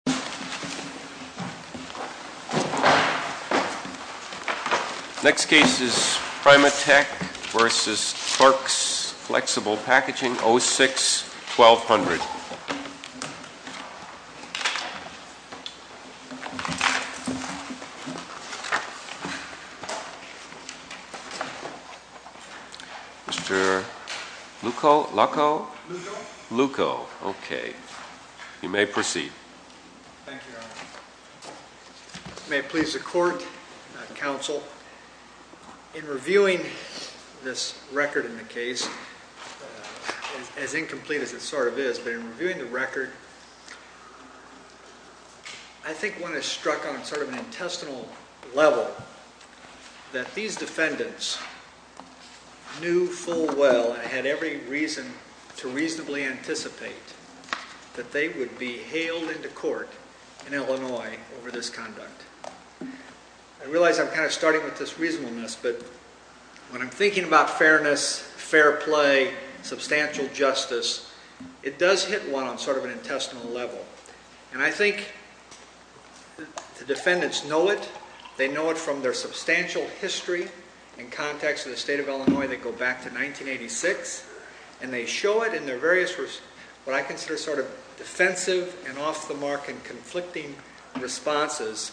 O6-1200 Thank you, Your Honor. May it please the court, counsel, in reviewing this record in the case, as incomplete as it sort of is, but in reviewing the record, I think one has struck on sort of an intestinal level that these defendants knew full well and had every reason to reasonably anticipate that they would be hailed into court in Illinois over this conduct. I realize I'm kind of starting with this reasonableness, but when I'm thinking about fairness, fair play, substantial justice, it does hit one on sort of an intestinal level. And I think the defendants know it. They know it from their substantial history and contacts in the state of Illinois that go back to 1986, and they show it in their various, what I consider sort of defensive and off-the-mark and conflicting responses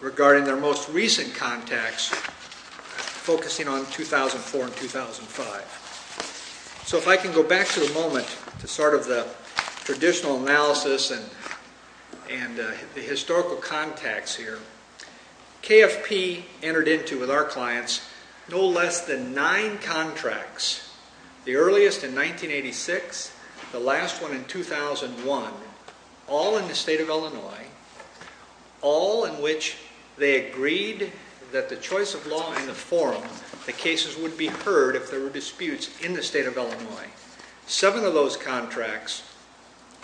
regarding their most recent contacts, focusing on 2004 and 2005. So if I can go back for a moment to sort of the traditional analysis and the historical contacts here, KFP entered into with our clients no less than nine contracts, the earliest in 1986, the last one in 2001, all in the state of Illinois, all in which they agreed that the choice of law in the forum, the cases would be heard if there were disputes. If there were disputes in the state of Illinois, seven of those contracts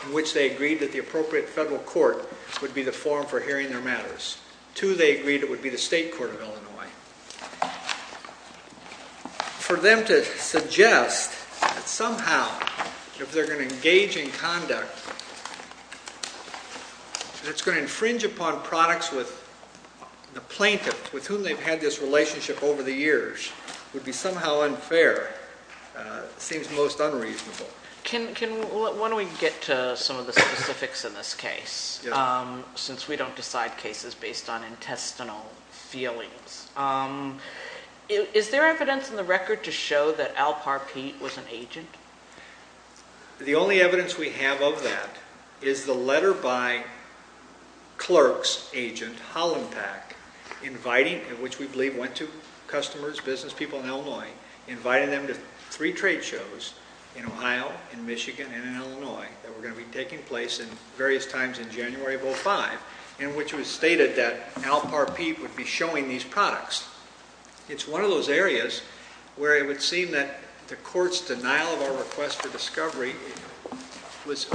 in which they agreed that the appropriate federal court would be the forum for hearing their matters. Two, they agreed it would be the state court of Illinois. For them to suggest that somehow if they're going to engage in conduct that it's going to infringe upon products with the plaintiff with whom they've had this relationship over the years would be somehow unfair seems most unreasonable. When we get to some of the specifics in this case, since we don't decide cases based on intestinal feelings, is there evidence in the record to show that Al Parpeet was an agent? The only evidence we have of that is the letter by clerk's agent, Holland Pack, inviting, which we believe went to customers, business people in Illinois, inviting them to three trade shows in Ohio, in Michigan, and in Illinois that were going to be taking place at various times in January of 2005, in which it was stated that Al Parpeet would be showing these products. It's one of those areas where it would seem that the court's denial of our request for discovery was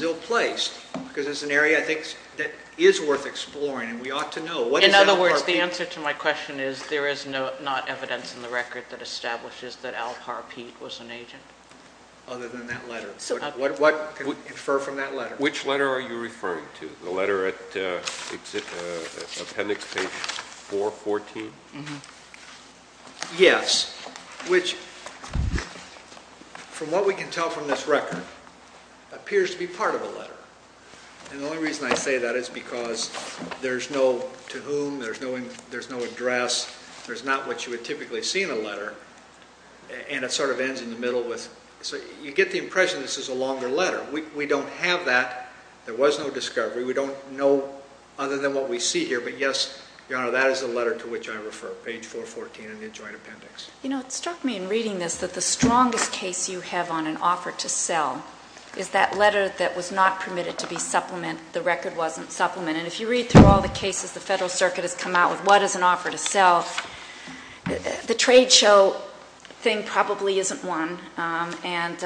ill placed because it's an area I think that is worth exploring and we ought to know. In other words, the answer to my question is there is not evidence in the record that establishes that Al Parpeet was an agent. Other than that letter. Which letter are you referring to? The letter at appendix page 414? Yes. Which, from what we can tell from this record, appears to be part of a letter. And the only reason I say that is because there's no to whom, there's no address, there's not what you would typically see in a letter. And it sort of ends in the middle with, you get the impression this is a longer letter. We don't have that. There was no discovery. We don't know other than what we see here. But yes, Your Honor, that is the letter to which I refer, page 414 in the joint appendix. You know, it struck me in reading this that the strongest case you have on an offer to sell is that letter that was not permitted to be supplement, the record wasn't supplement. And if you read through all the cases the Federal Circuit has come out with, what is an offer to sell, the trade show thing probably isn't one. And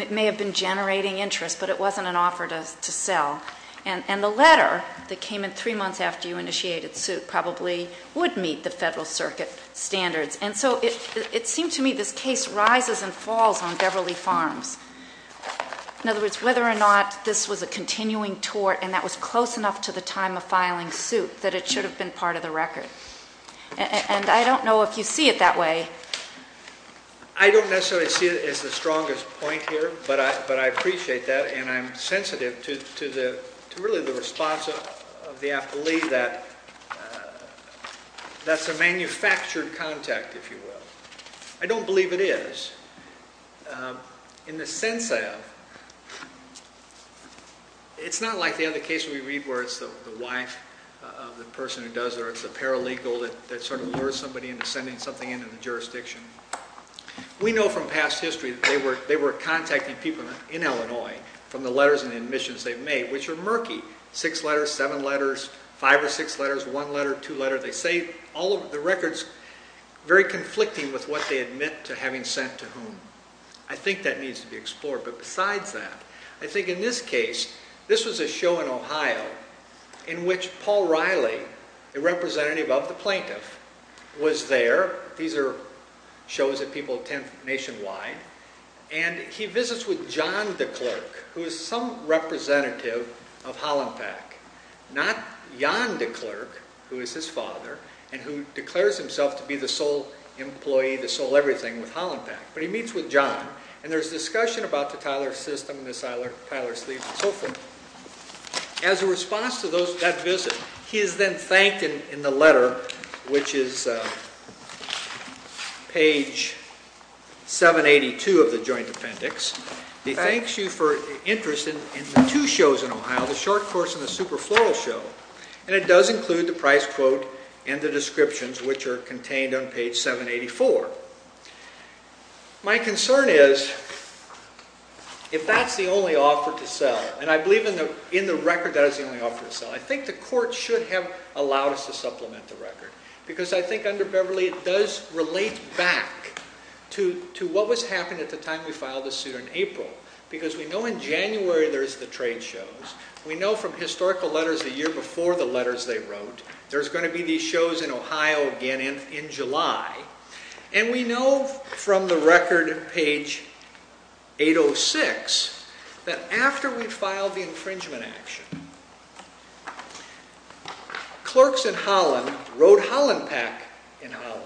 it may have been generating interest, but it wasn't an offer to sell. And the letter that came in three months after you initiated suit probably would meet the Federal Circuit standards. And so it seemed to me this case rises and falls on Beverly Farms. In other words, whether or not this was a continuing tort and that was close enough to the time of filing suit that it should have been part of the record. And I don't know if you see it that way. I don't necessarily see it as the strongest point here, but I appreciate that. And I'm sensitive to really the response of the affilee that that's a manufactured contact, if you will. I don't believe it is. In the sense of, it's not like the other case we read where it's the wife of the person who does it, or it's the paralegal that sort of lures somebody into sending something into the jurisdiction. We know from past history that they were contacting people in Illinois from the letters and admissions they've made, which are murky. Six letters, seven letters, five or six letters, one letter, two letters. The records are very conflicting with what they admit to having sent to whom. I think that needs to be explored. But besides that, I think in this case, this was a show in Ohio in which Paul Riley, a representative of the plaintiff, was there. These are shows that people attend nationwide. And he visits with John de Klerk, who is some representative of Hollenpack. Not Jan de Klerk, who is his father, and who declares himself to be the sole employee, the sole everything with Hollenpack. But he meets with John. And there's discussion about the Tyler System and the Tyler Sleeve and so forth. As a response to that visit, he is then thanked in the letter, which is page 782 of the joint appendix. He thanks you for your interest in the two shows in Ohio, the short course and the super floral show. And it does include the price quote and the descriptions, which are contained on page 784. My concern is, if that's the only offer to sell, and I believe in the record that is the only offer to sell, I think the court should have allowed us to supplement the record. Because I think under Beverly it does relate back to what was happening at the time we filed the suit in April. Because we know in January there's the trade shows. We know from historical letters the year before the letters they wrote, there's going to be these shows in Ohio again in July. And we know from the record, page 806, that after we filed the infringement action, clerks in Holland wrote Holland Pack in Holland.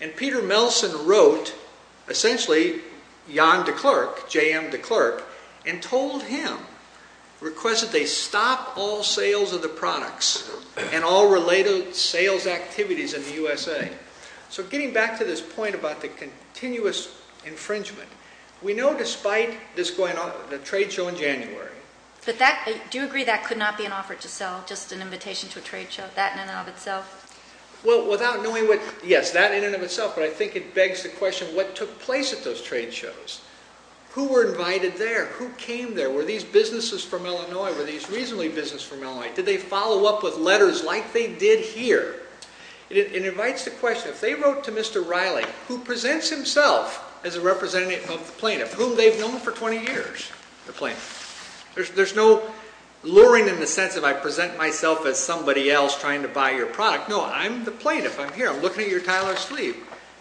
And Peter Melson wrote, essentially, Jan de Klerk, JM de Klerk, and told him, requested they stop all sales of the products and all related sales activities in the USA. So getting back to this point about the continuous infringement, we know despite this going on, the trade show in January. Do you agree that could not be an offer to sell, just an invitation to a trade show, that in and of itself? Well, without knowing what, yes, that in and of itself, but I think it begs the question, what took place at those trade shows? Who were invited there? Who came there? Were these businesses from Illinois? Were these reasonably businesses from Illinois? Did they follow up with letters like they did here? It invites the question, if they wrote to Mr. Riley, who presents himself as a representative of the plaintiff, whom they've known for 20 years, the plaintiff. There's no luring in the sense of I present myself as somebody else trying to buy your product. No, I'm the plaintiff. I'm here. I'm looking at your tile or sleeve.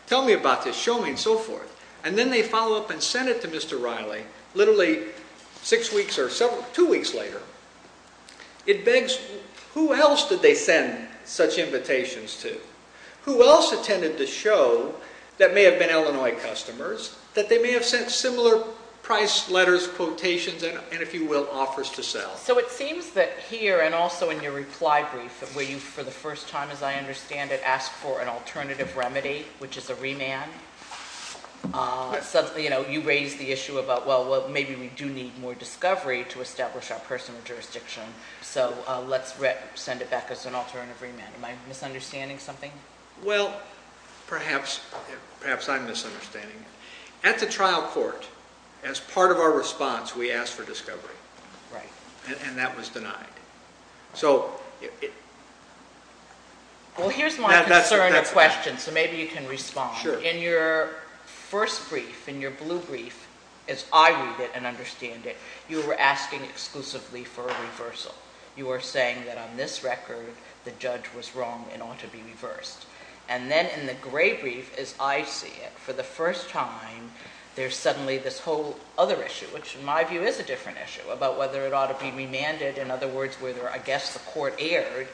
Tell me about this. Show me, and so forth. And then they follow up and send it to Mr. Riley, literally six weeks or two weeks later. It begs, who else did they send such invitations to? Who else attended the show that may have been Illinois customers that they may have sent similar price letters, quotations, and, if you will, offers to sell? So it seems that here, and also in your reply brief, where you, for the first time, as I understand it, asked for an alternative remedy, which is a remand. You raised the issue about, well, maybe we do need more discovery to establish our personal jurisdiction. So let's send it back as an alternative remand. Am I misunderstanding something? Well, perhaps I'm misunderstanding it. At the trial court, as part of our response, we asked for discovery. Right. And that was denied. Well, here's my concern or question, so maybe you can respond. Sure. In your first brief, in your blue brief, as I read it and understand it, you were asking exclusively for a reversal. You were saying that on this record, the judge was wrong and ought to be reversed. And then in the gray brief, as I see it, for the first time, there's suddenly this whole other issue, which in my view is a different issue, about whether it ought to be remanded. In other words, whether, I guess, the court erred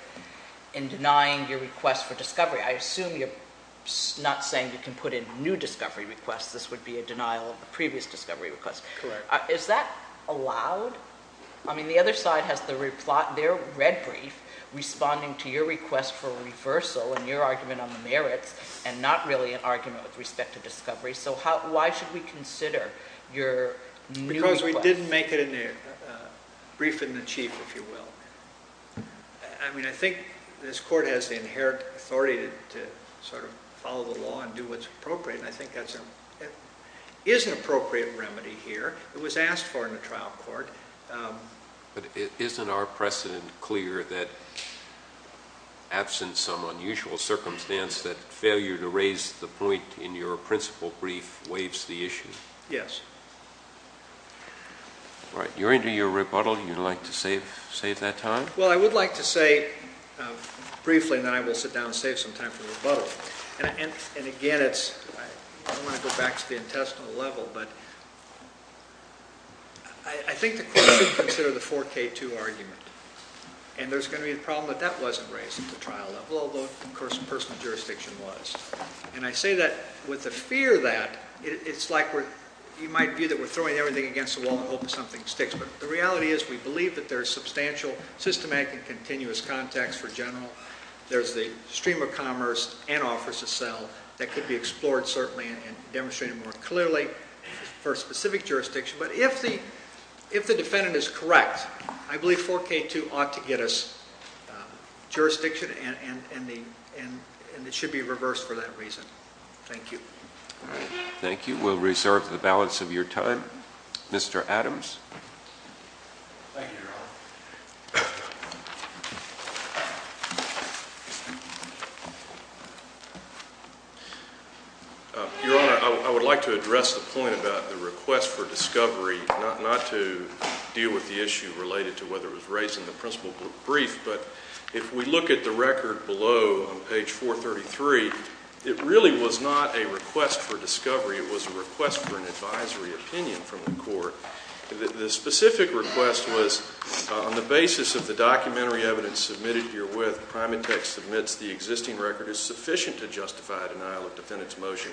in denying your request for discovery. I assume you're not saying you can put in new discovery requests. This would be a denial of the previous discovery request. Correct. Is that allowed? I mean, the other side has their red brief responding to your request for reversal and your argument on the merits and not really an argument with respect to discovery. So why should we consider your new request? Because we didn't make it in the brief in the chief, if you will. I mean, I think this court has the inherent authority to sort of follow the law and do what's appropriate, and I think that is an appropriate remedy here. It was asked for in the trial court. But isn't our precedent clear that absent some unusual circumstance that failure to raise the point in your principal brief waives the issue? Yes. All right. You're into your rebuttal. You'd like to save that time? Well, I would like to say briefly that I will sit down and save some time for rebuttal. And again, I don't want to go back to the intestinal level, but I think the court should consider the 4K2 argument. And there's going to be a problem that that wasn't raised at the trial level, although, of course, personal jurisdiction was. And I say that with a fear that it's like you might view that we're throwing everything against the wall in the hope that something sticks. But the reality is we believe that there is substantial, systematic and continuous context for general. There's the stream of commerce and offers to sell that could be explored certainly and demonstrated more clearly. For specific jurisdiction. But if the defendant is correct, I believe 4K2 ought to get us jurisdiction and it should be reversed for that reason. Thank you. Thank you. We'll reserve the balance of your time. Mr. Adams? Thank you, Your Honor. Your Honor, I would like to address the point about the request for discovery, not to deal with the issue related to whether it was raised in the principal brief, but if we look at the record below on page 433, it really was not a request for discovery. It was a request for an advisory opinion from the court. The specific request was for the discovery to be made On the basis of the documentary evidence submitted herewith, Primatech submits the existing record is sufficient to justify a denial of defendant's motion.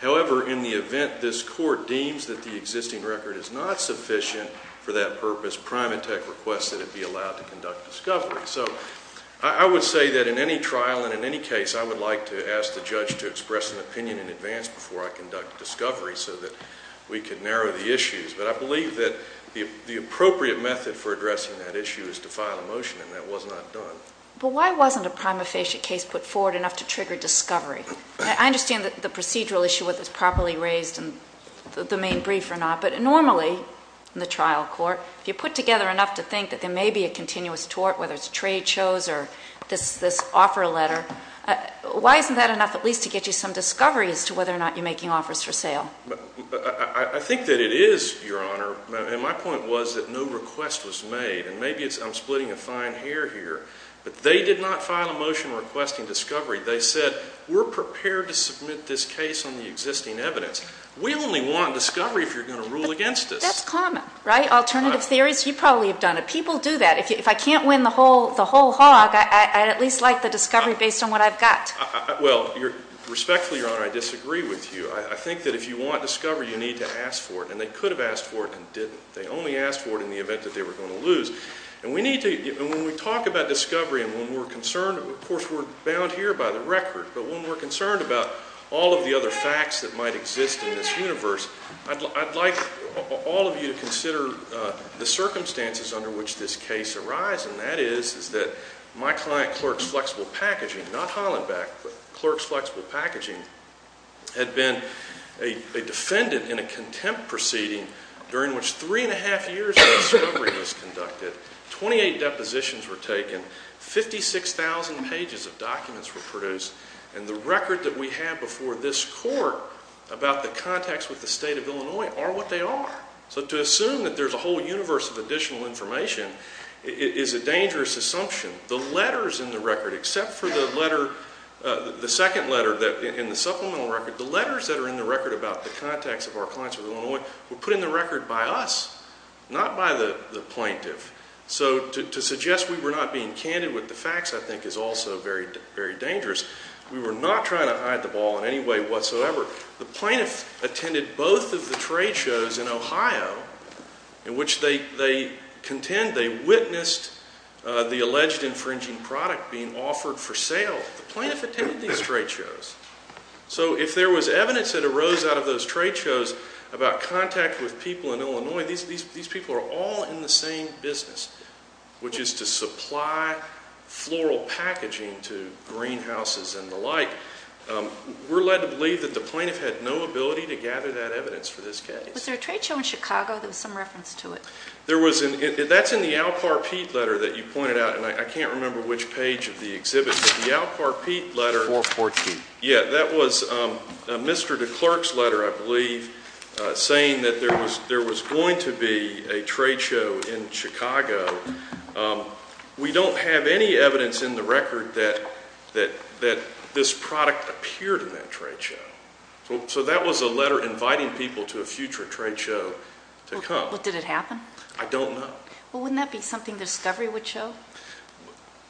However, in the event this court deems that the existing record is not sufficient for that purpose, Primatech requests that it be allowed to conduct discovery. So I would say that in any trial and in any case, I would like to ask the judge to express an opinion in advance before I conduct discovery so that we can narrow the issues. But I believe that the appropriate method for addressing that issue is to file a motion, and that was not done. But why wasn't a prima facie case put forward enough to trigger discovery? I understand that the procedural issue was properly raised in the main brief or not, but normally in the trial court, if you put together enough to think that there may be a continuous tort, whether it's trade shows or this offer letter, why isn't that enough at least to get you some discovery as to whether or not you're making offers for sale? I think that it is, Your Honor. And my point was that no request was made. And maybe I'm splitting a fine hair here, but they did not file a motion requesting discovery. They said, we're prepared to submit this case on the existing evidence. We only want discovery if you're going to rule against us. That's common, right? Alternative theories, you probably have done it. People do that. If I can't win the whole hog, I'd at least like the discovery based on what I've got. Well, respectfully, Your Honor, I disagree with you. I think that if you want discovery, you need to ask for it. And they could have asked for it and didn't. They only asked for it in the event that they were going to lose. And when we talk about discovery and when we're concerned, of course we're bound here by the record, but when we're concerned about all of the other facts that might exist in this universe, I'd like all of you to consider the circumstances under which this case arises. And that is that my client, Clark's Flexible Packaging, not Hollenbeck, but Clark's Flexible Packaging, had been a defendant in a contempt proceeding during which three and a half years of discovery was conducted, 28 depositions were taken, 56,000 pages of documents were produced, and the record that we have before this court about the contacts with the state of Illinois are what they are. So to assume that there's a whole universe of additional information is a dangerous assumption. The letters in the record, except for the letter, the second letter in the supplemental record, the letters that are in the record about the contacts of our clients with Illinois were put in the record by us, not by the plaintiff. So to suggest we were not being candid with the facts I think is also very dangerous. We were not trying to hide the ball in any way whatsoever. The plaintiff attended both of the trade shows in Ohio in which they contend they witnessed the alleged infringing product being offered for sale. The plaintiff attended these trade shows. So if there was evidence that arose out of those trade shows about contact with people in Illinois, these people are all in the same business, which is to supply floral packaging to greenhouses and the like. We're led to believe that the plaintiff had no ability to gather that evidence for this case. Was there a trade show in Chicago that was some reference to it? That's in the Al Parpeet letter that you pointed out, and I can't remember which page of the exhibit, but the Al Parpeet letter. 414. Yeah, that was Mr. DeClerk's letter, I believe, saying that there was going to be a trade show in Chicago. We don't have any evidence in the record that this product appeared in that trade show. So that was a letter inviting people to a future trade show to come. Well, did it happen? I don't know. Well, wouldn't that be something discovery would show?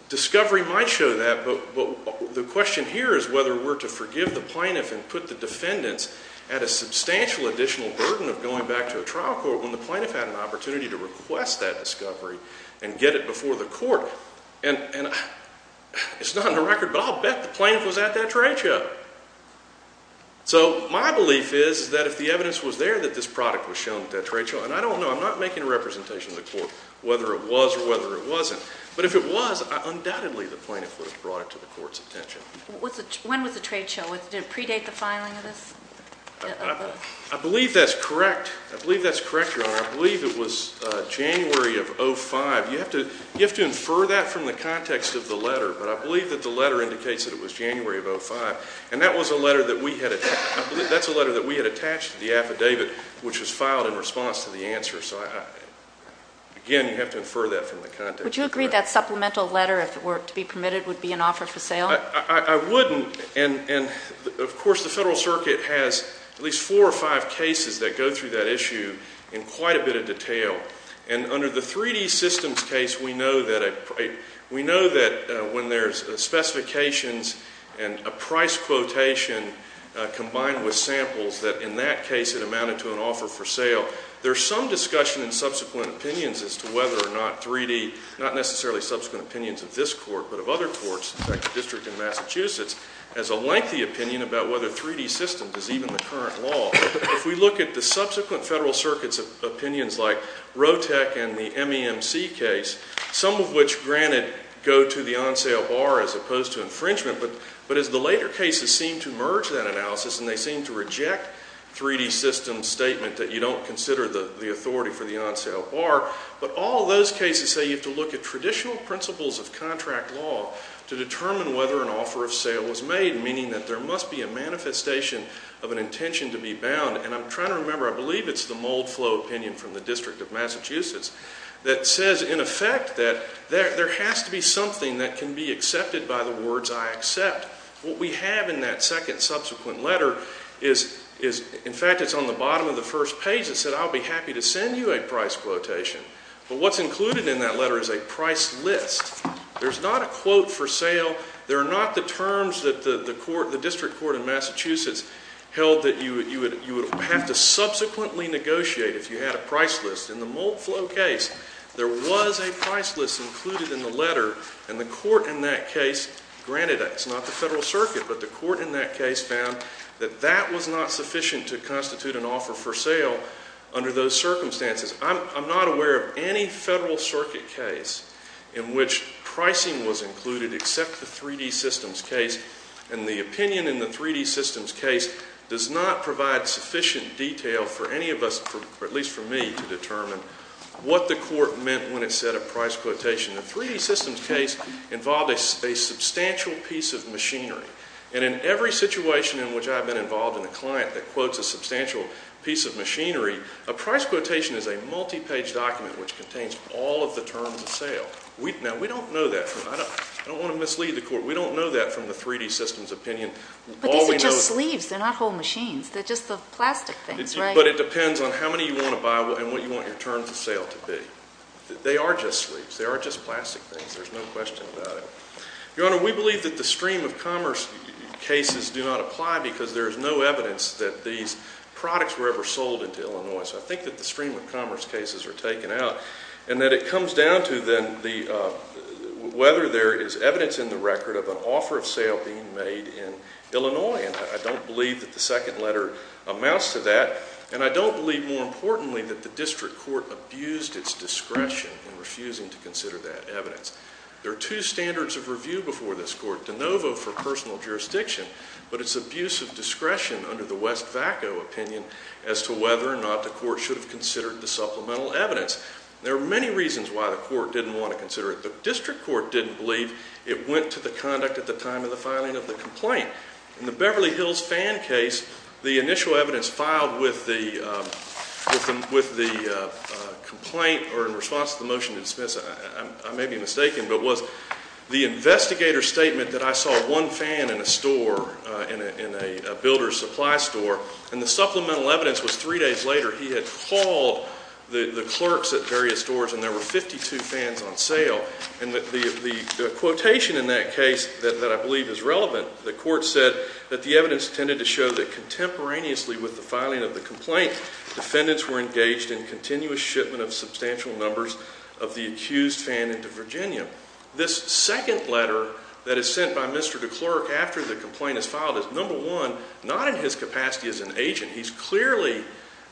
Discovery might show that, but the question here is whether we're to forgive the plaintiff and put the defendants at a substantial additional burden of going back to a trial court when the plaintiff had an opportunity to request that discovery and get it before the court. And it's not in the record, but I'll bet the plaintiff was at that trade show. So my belief is that if the evidence was there that this product was shown at that trade show, and I don't know, I'm not making a representation to the court whether it was or whether it wasn't, but if it was, undoubtedly the plaintiff would have brought it to the court's attention. When was the trade show? Did it predate the filing of this? I believe that's correct. I believe that's correct, Your Honor. I believe it was January of 2005. You have to infer that from the context of the letter, but I believe that the letter indicates that it was January of 2005, and that was a letter that we had attached to the affidavit which was filed in response to the answer. So, again, you have to infer that from the context of the letter. Would you agree that supplemental letter, if it were to be permitted, would be an offer for sale? I wouldn't. And, of course, the Federal Circuit has at least four or five cases that go through that issue in quite a bit of detail. And under the 3D systems case, we know that when there's specifications and a price quotation combined with samples, that in that case it amounted to an offer for sale. There's some discussion in subsequent opinions as to whether or not 3D, not necessarily subsequent opinions of this court, but of other courts, like the District of Massachusetts, has a lengthy opinion about whether 3D systems is even the current law. If we look at the subsequent Federal Circuit's opinions, like Rotec and the MEMC case, some of which, granted, go to the on-sale bar as opposed to infringement, but as the later cases seem to merge that analysis and they seem to reject 3D systems' statement that you don't consider the authority for the on-sale bar, but all those cases say you have to look at traditional principles of contract law to determine whether an offer of sale was made, meaning that there must be a manifestation of an intention to be bound. And I'm trying to remember, I believe it's the Moldflow opinion from the District of Massachusetts that says, in effect, that there has to be something that can be accepted by the words, I accept. What we have in that second subsequent letter is, in fact, it's on the bottom of the first page. It said, I'll be happy to send you a price quotation. But what's included in that letter is a price list. There's not a quote for sale. There are not the terms that the District Court in Massachusetts held that you would have to subsequently negotiate if you had a price list. In the Moldflow case, there was a price list included in the letter and the court in that case granted that. It's not the Federal Circuit, but the court in that case found that that was not sufficient to constitute an offer for sale under those circumstances. I'm not aware of any Federal Circuit case in which pricing was included except the 3D systems case and the opinion in the 3D systems case does not provide sufficient detail for any of us, at least for me, to determine what the court meant when it said a price quotation. The 3D systems case involved a substantial piece of machinery and in every situation in which I've been involved in a client that quotes a substantial piece of machinery, a price quotation is a multi-page document which contains all of the terms of sale. Now, we don't know that. I don't want to mislead the court. We don't know that from the 3D systems opinion. But these are just sleeves. They're not whole machines. They're just the plastic things, right? But it depends on how many you want to buy and what you want your terms of sale to be. They are just sleeves. They are just plastic things. There's no question about it. Your Honor, we believe that the stream of commerce cases do not apply because there is no evidence that these products were ever sold into Illinois. So I think that the stream of commerce cases are taken out and that it comes down to then whether there is evidence in the record of an offer of sale being made in Illinois. And I don't believe that the second letter amounts to that. And I don't believe, more importantly, that the district court abused its discretion in refusing to consider that evidence. There are two standards of review before this court, de novo for personal jurisdiction, but it's abuse of discretion under the West Vaco opinion as to whether or not the court should have considered the supplemental evidence. There are many reasons why the court didn't want to consider it. The district court didn't believe it went to the conduct at the time of the filing of the complaint. In the Beverly Hills fan case, the initial evidence filed with the complaint or in response to the motion to dismiss it, I may be mistaken, but was the investigator's statement that I saw one fan in a store, in a builder's supply store, and the supplemental evidence was three days later, he had called the clerks at various stores and there were 52 fans on sale. And the quotation in that case that I believe is relevant, the court said that the evidence tended to show that contemporaneously with the filing of the complaint, defendants were engaged in continuous shipment of substantial numbers of the accused fan into Virginia. This second letter that is sent by Mr. DeClercq after the complaint is filed is, number one, not in his capacity as an agent. He's clearly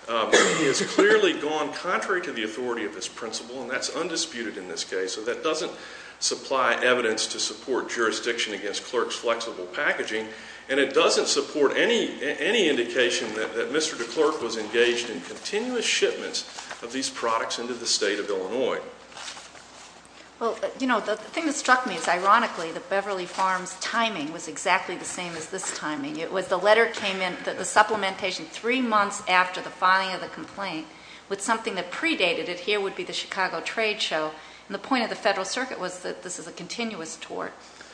gone contrary to the authority of his principle and that's undisputed in this case. So that doesn't supply evidence to support jurisdiction against clerks' flexible packaging and it doesn't support any indication that Mr. DeClercq was engaged in continuous shipments of these products into the state of Illinois. Well, you know, the thing that struck me is, ironically, the Beverly Farms timing was exactly the same as this timing. It was the letter came in, the supplementation three months after the filing of the complaint with something that predated it. Here would be the Chicago trade show. And the point of the Federal Circuit was that this is a continuous tort.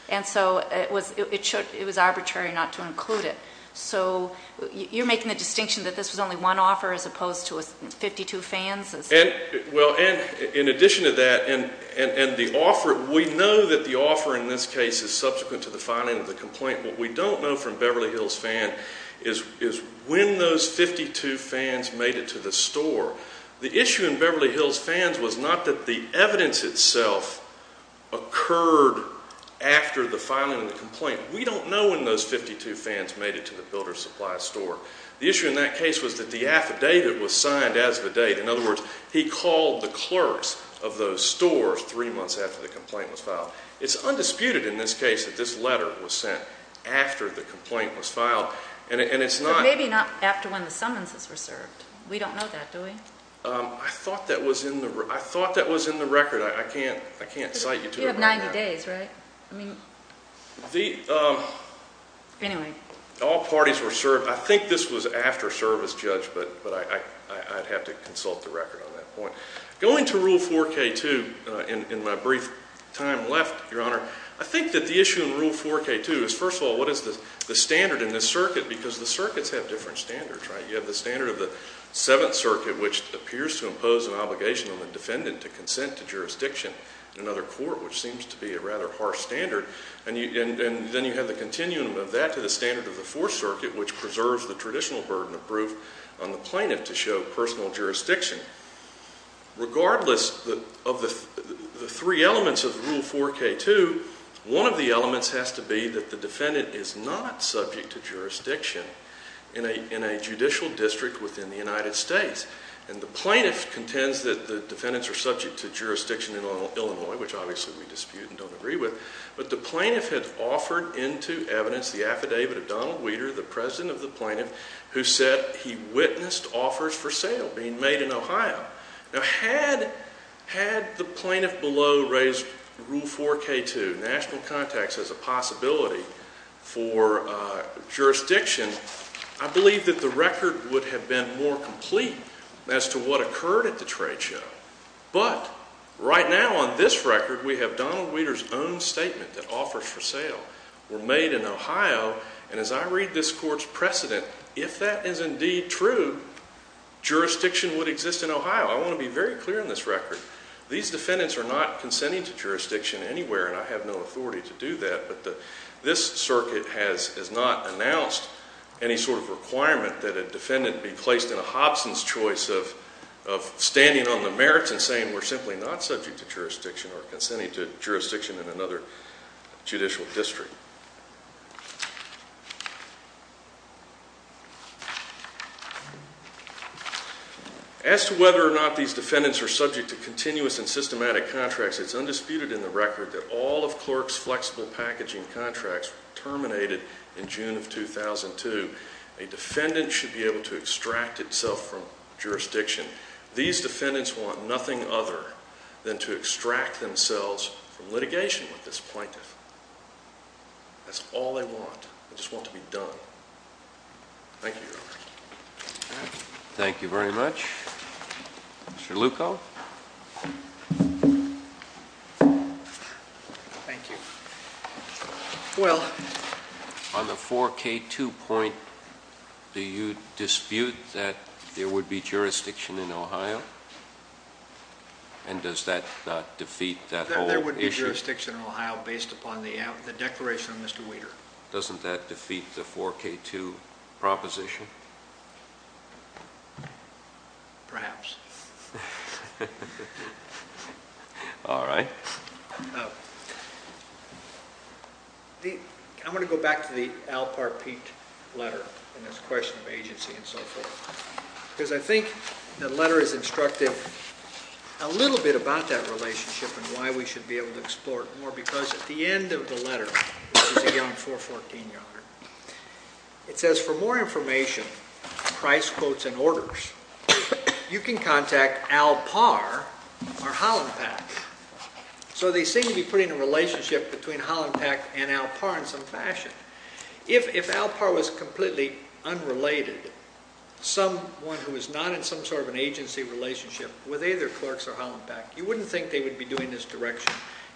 And so it was arbitrary not to include it. So you're making the distinction that this was only one offer as opposed to 52 fans? Well, Anne, in addition to that, and the offer, we know that the offer in this case is subsequent to the filing of the complaint. What we don't know from Beverly Hills Fan is when those 52 fans made it to the store. The issue in Beverly Hills Fans was not that the evidence itself occurred after the filing of the complaint. We don't know when those 52 fans made it to the builder's supply store. The issue in that case was that the affidavit was signed as of a date. In other words, he called the clerks of those stores three months after the complaint was filed. It's undisputed in this case that this letter was sent after the complaint was filed. But maybe not after when the summonses were served. We don't know that, do we? I thought that was in the record. You have 90 days, right? All parties were served. I think this was after service, Judge, but I'd have to consult the record on that point. Going to Rule 4K2, in my brief time left, Your Honor, I think that the issue in Rule 4K2 is, first of all, what is the standard in this circuit? Because the circuits have different standards, right? You have the standard of the Seventh Circuit, which appears to impose an obligation on the defendant to consent to jurisdiction in another court, which seems to be a rather harsh standard. And then you have the continuum of that to the standard of the Fourth Circuit, which preserves the traditional burden of proof on the plaintiff to show personal jurisdiction. Regardless of the three elements of Rule 4K2, one of the elements has to be that the defendant is not subject to jurisdiction in a judicial district within the United States. And the plaintiff contends that the defendants are subject to jurisdiction in Illinois, which obviously we dispute and don't agree with. But the plaintiff had offered into evidence the affidavit of Donald Weider, the president of the plaintiff, who said he witnessed offers for sale being made in Ohio. Now, had the plaintiff below raised Rule 4K2, national context, as a possibility for jurisdiction, I believe that the record would have been more complete as to what occurred at the trade show. But right now on this record, we have Donald Weider's own statement that offers for sale were made in Ohio. And as I read this court's precedent, if that is indeed true, jurisdiction would exist in Ohio. I want to be very clear on this record. These defendants are not consenting to jurisdiction anywhere, and I have no authority to do that, but this circuit has not announced any sort of requirement that a defendant be placed in a Hobson's choice of standing on the merits and saying we're simply not subject to jurisdiction or consenting to jurisdiction in another judicial district. As to whether or not these defendants are subject to continuous and systematic contracts, it's undisputed in the record that all of Clark's flexible packaging contracts were terminated in June of 2002. A defendant should be able to extract itself from jurisdiction. These defendants want nothing other than to extract themselves from litigation with this plaintiff. That's all they want. They just want to be done. Thank you. Thank you very much. Mr. Lucco? Thank you. Well... On the 4K2 point, do you dispute that there would be jurisdiction in Ohio? And does that defeat that whole issue? There would be jurisdiction in Ohio based upon the declaration of Mr. Weider. Doesn't that defeat the 4K2 proposition? Perhaps. All right. I'm going to go back to the Al Parpeet letter and his question of agency and so forth. Because I think the letter has instructed a little bit about that relationship and why we should be able to explore it more. Because at the end of the letter, which is a young 414 yard, it says, for more information, price quotes and orders, you can contact Mr. Weider or you can contact Al Parpeet or Hollenpack. So they seem to be putting a relationship between Hollenpack and Al Parpeet in some fashion. If Al Parpeet was completely unrelated, someone who is not in some sort of an agency relationship with either Clarks or Hollenpack, you wouldn't think they would be doing this direction.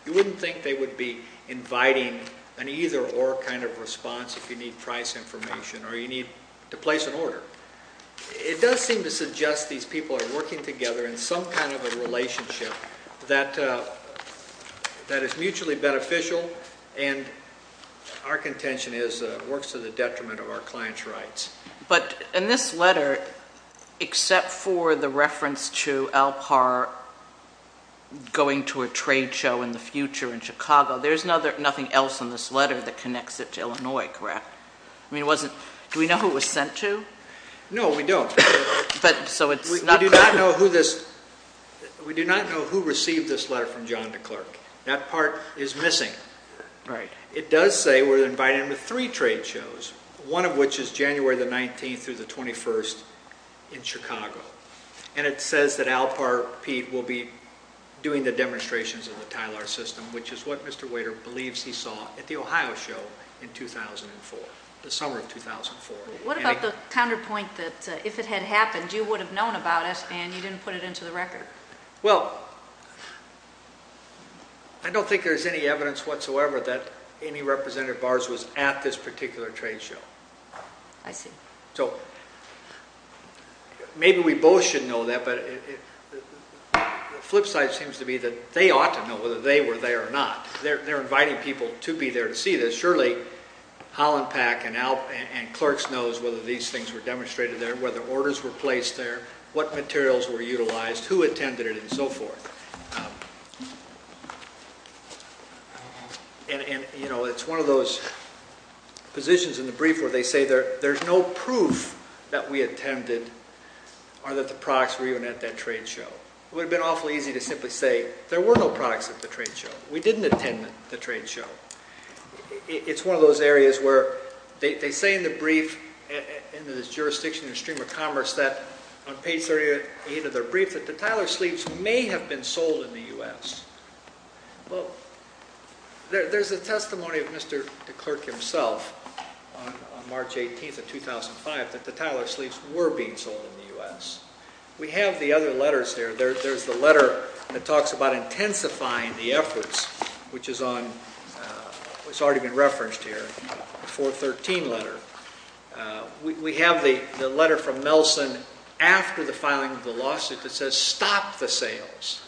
You wouldn't think they would be inviting an either-or kind of response if you need price information or you need to place an order. It does seem to suggest these people are working together in some kind of a relationship that is mutually beneficial and our contention is that it works to the detriment of our client's rights. But in this letter, except for the reference to Al Parpeet going to a trade show in the future in Chicago, there's nothing else in this letter that connects it to Illinois, correct? Do we know who it was sent to? No, we don't. We do not know who received this letter from John DeClercq. That part is missing. It does say we're inviting him to three trade shows, one of which is January the 19th through the 21st in Chicago. And it says that Al Parpeet will be doing the demonstrations of the Tyler system, which is what Mr. Wader believes he saw at the Ohio show in 2004, the summer of 2004. What about the counterpoint that if it had happened, you would have known about it and you didn't put it into the record? Well, I don't think there's any evidence whatsoever that any representative of ours was at this particular trade show. I see. Maybe we both should know that, but the flip side seems to be that they ought to know whether they were there or not. They're inviting people to be there to see this. Surely, Holland Pack and DeClercq's knows whether these things were demonstrated there, whether orders were placed there, what materials were utilized, who attended it, and so forth. It's one of those positions in the brief where they say there's no proof that we attended or that the products were even at that trade show. It would have been awfully easy to simply say there were no products at the trade show. We didn't attend the trade show. It's one of those areas where they say in the brief in the jurisdiction of Stream of Commerce that on page 38 of their brief that the Tyler Sleeves may have been sold in the U.S. Well, there's a testimony of Mr. DeClercq himself on March 18th of 2005 that the Tyler Sleeves were being sold in the U.S. We have the other letters there. There's the letter that talks about intensifying the efforts, which has already been referenced here in the 413 letter. We have the letter from Nelson after the filing of the lawsuit that says stop the sales.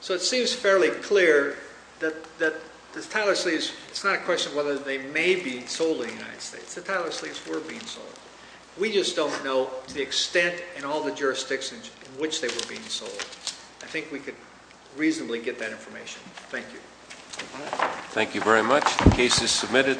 So it seems fairly clear that the Tyler Sleeves it's not a question of whether they may be sold in the United States. The Tyler Sleeves were being sold. We just don't know the extent and all the jurisdictions in which they were being sold. I think we could reasonably get that information. Thank you. Thank you very much. The case is submitted.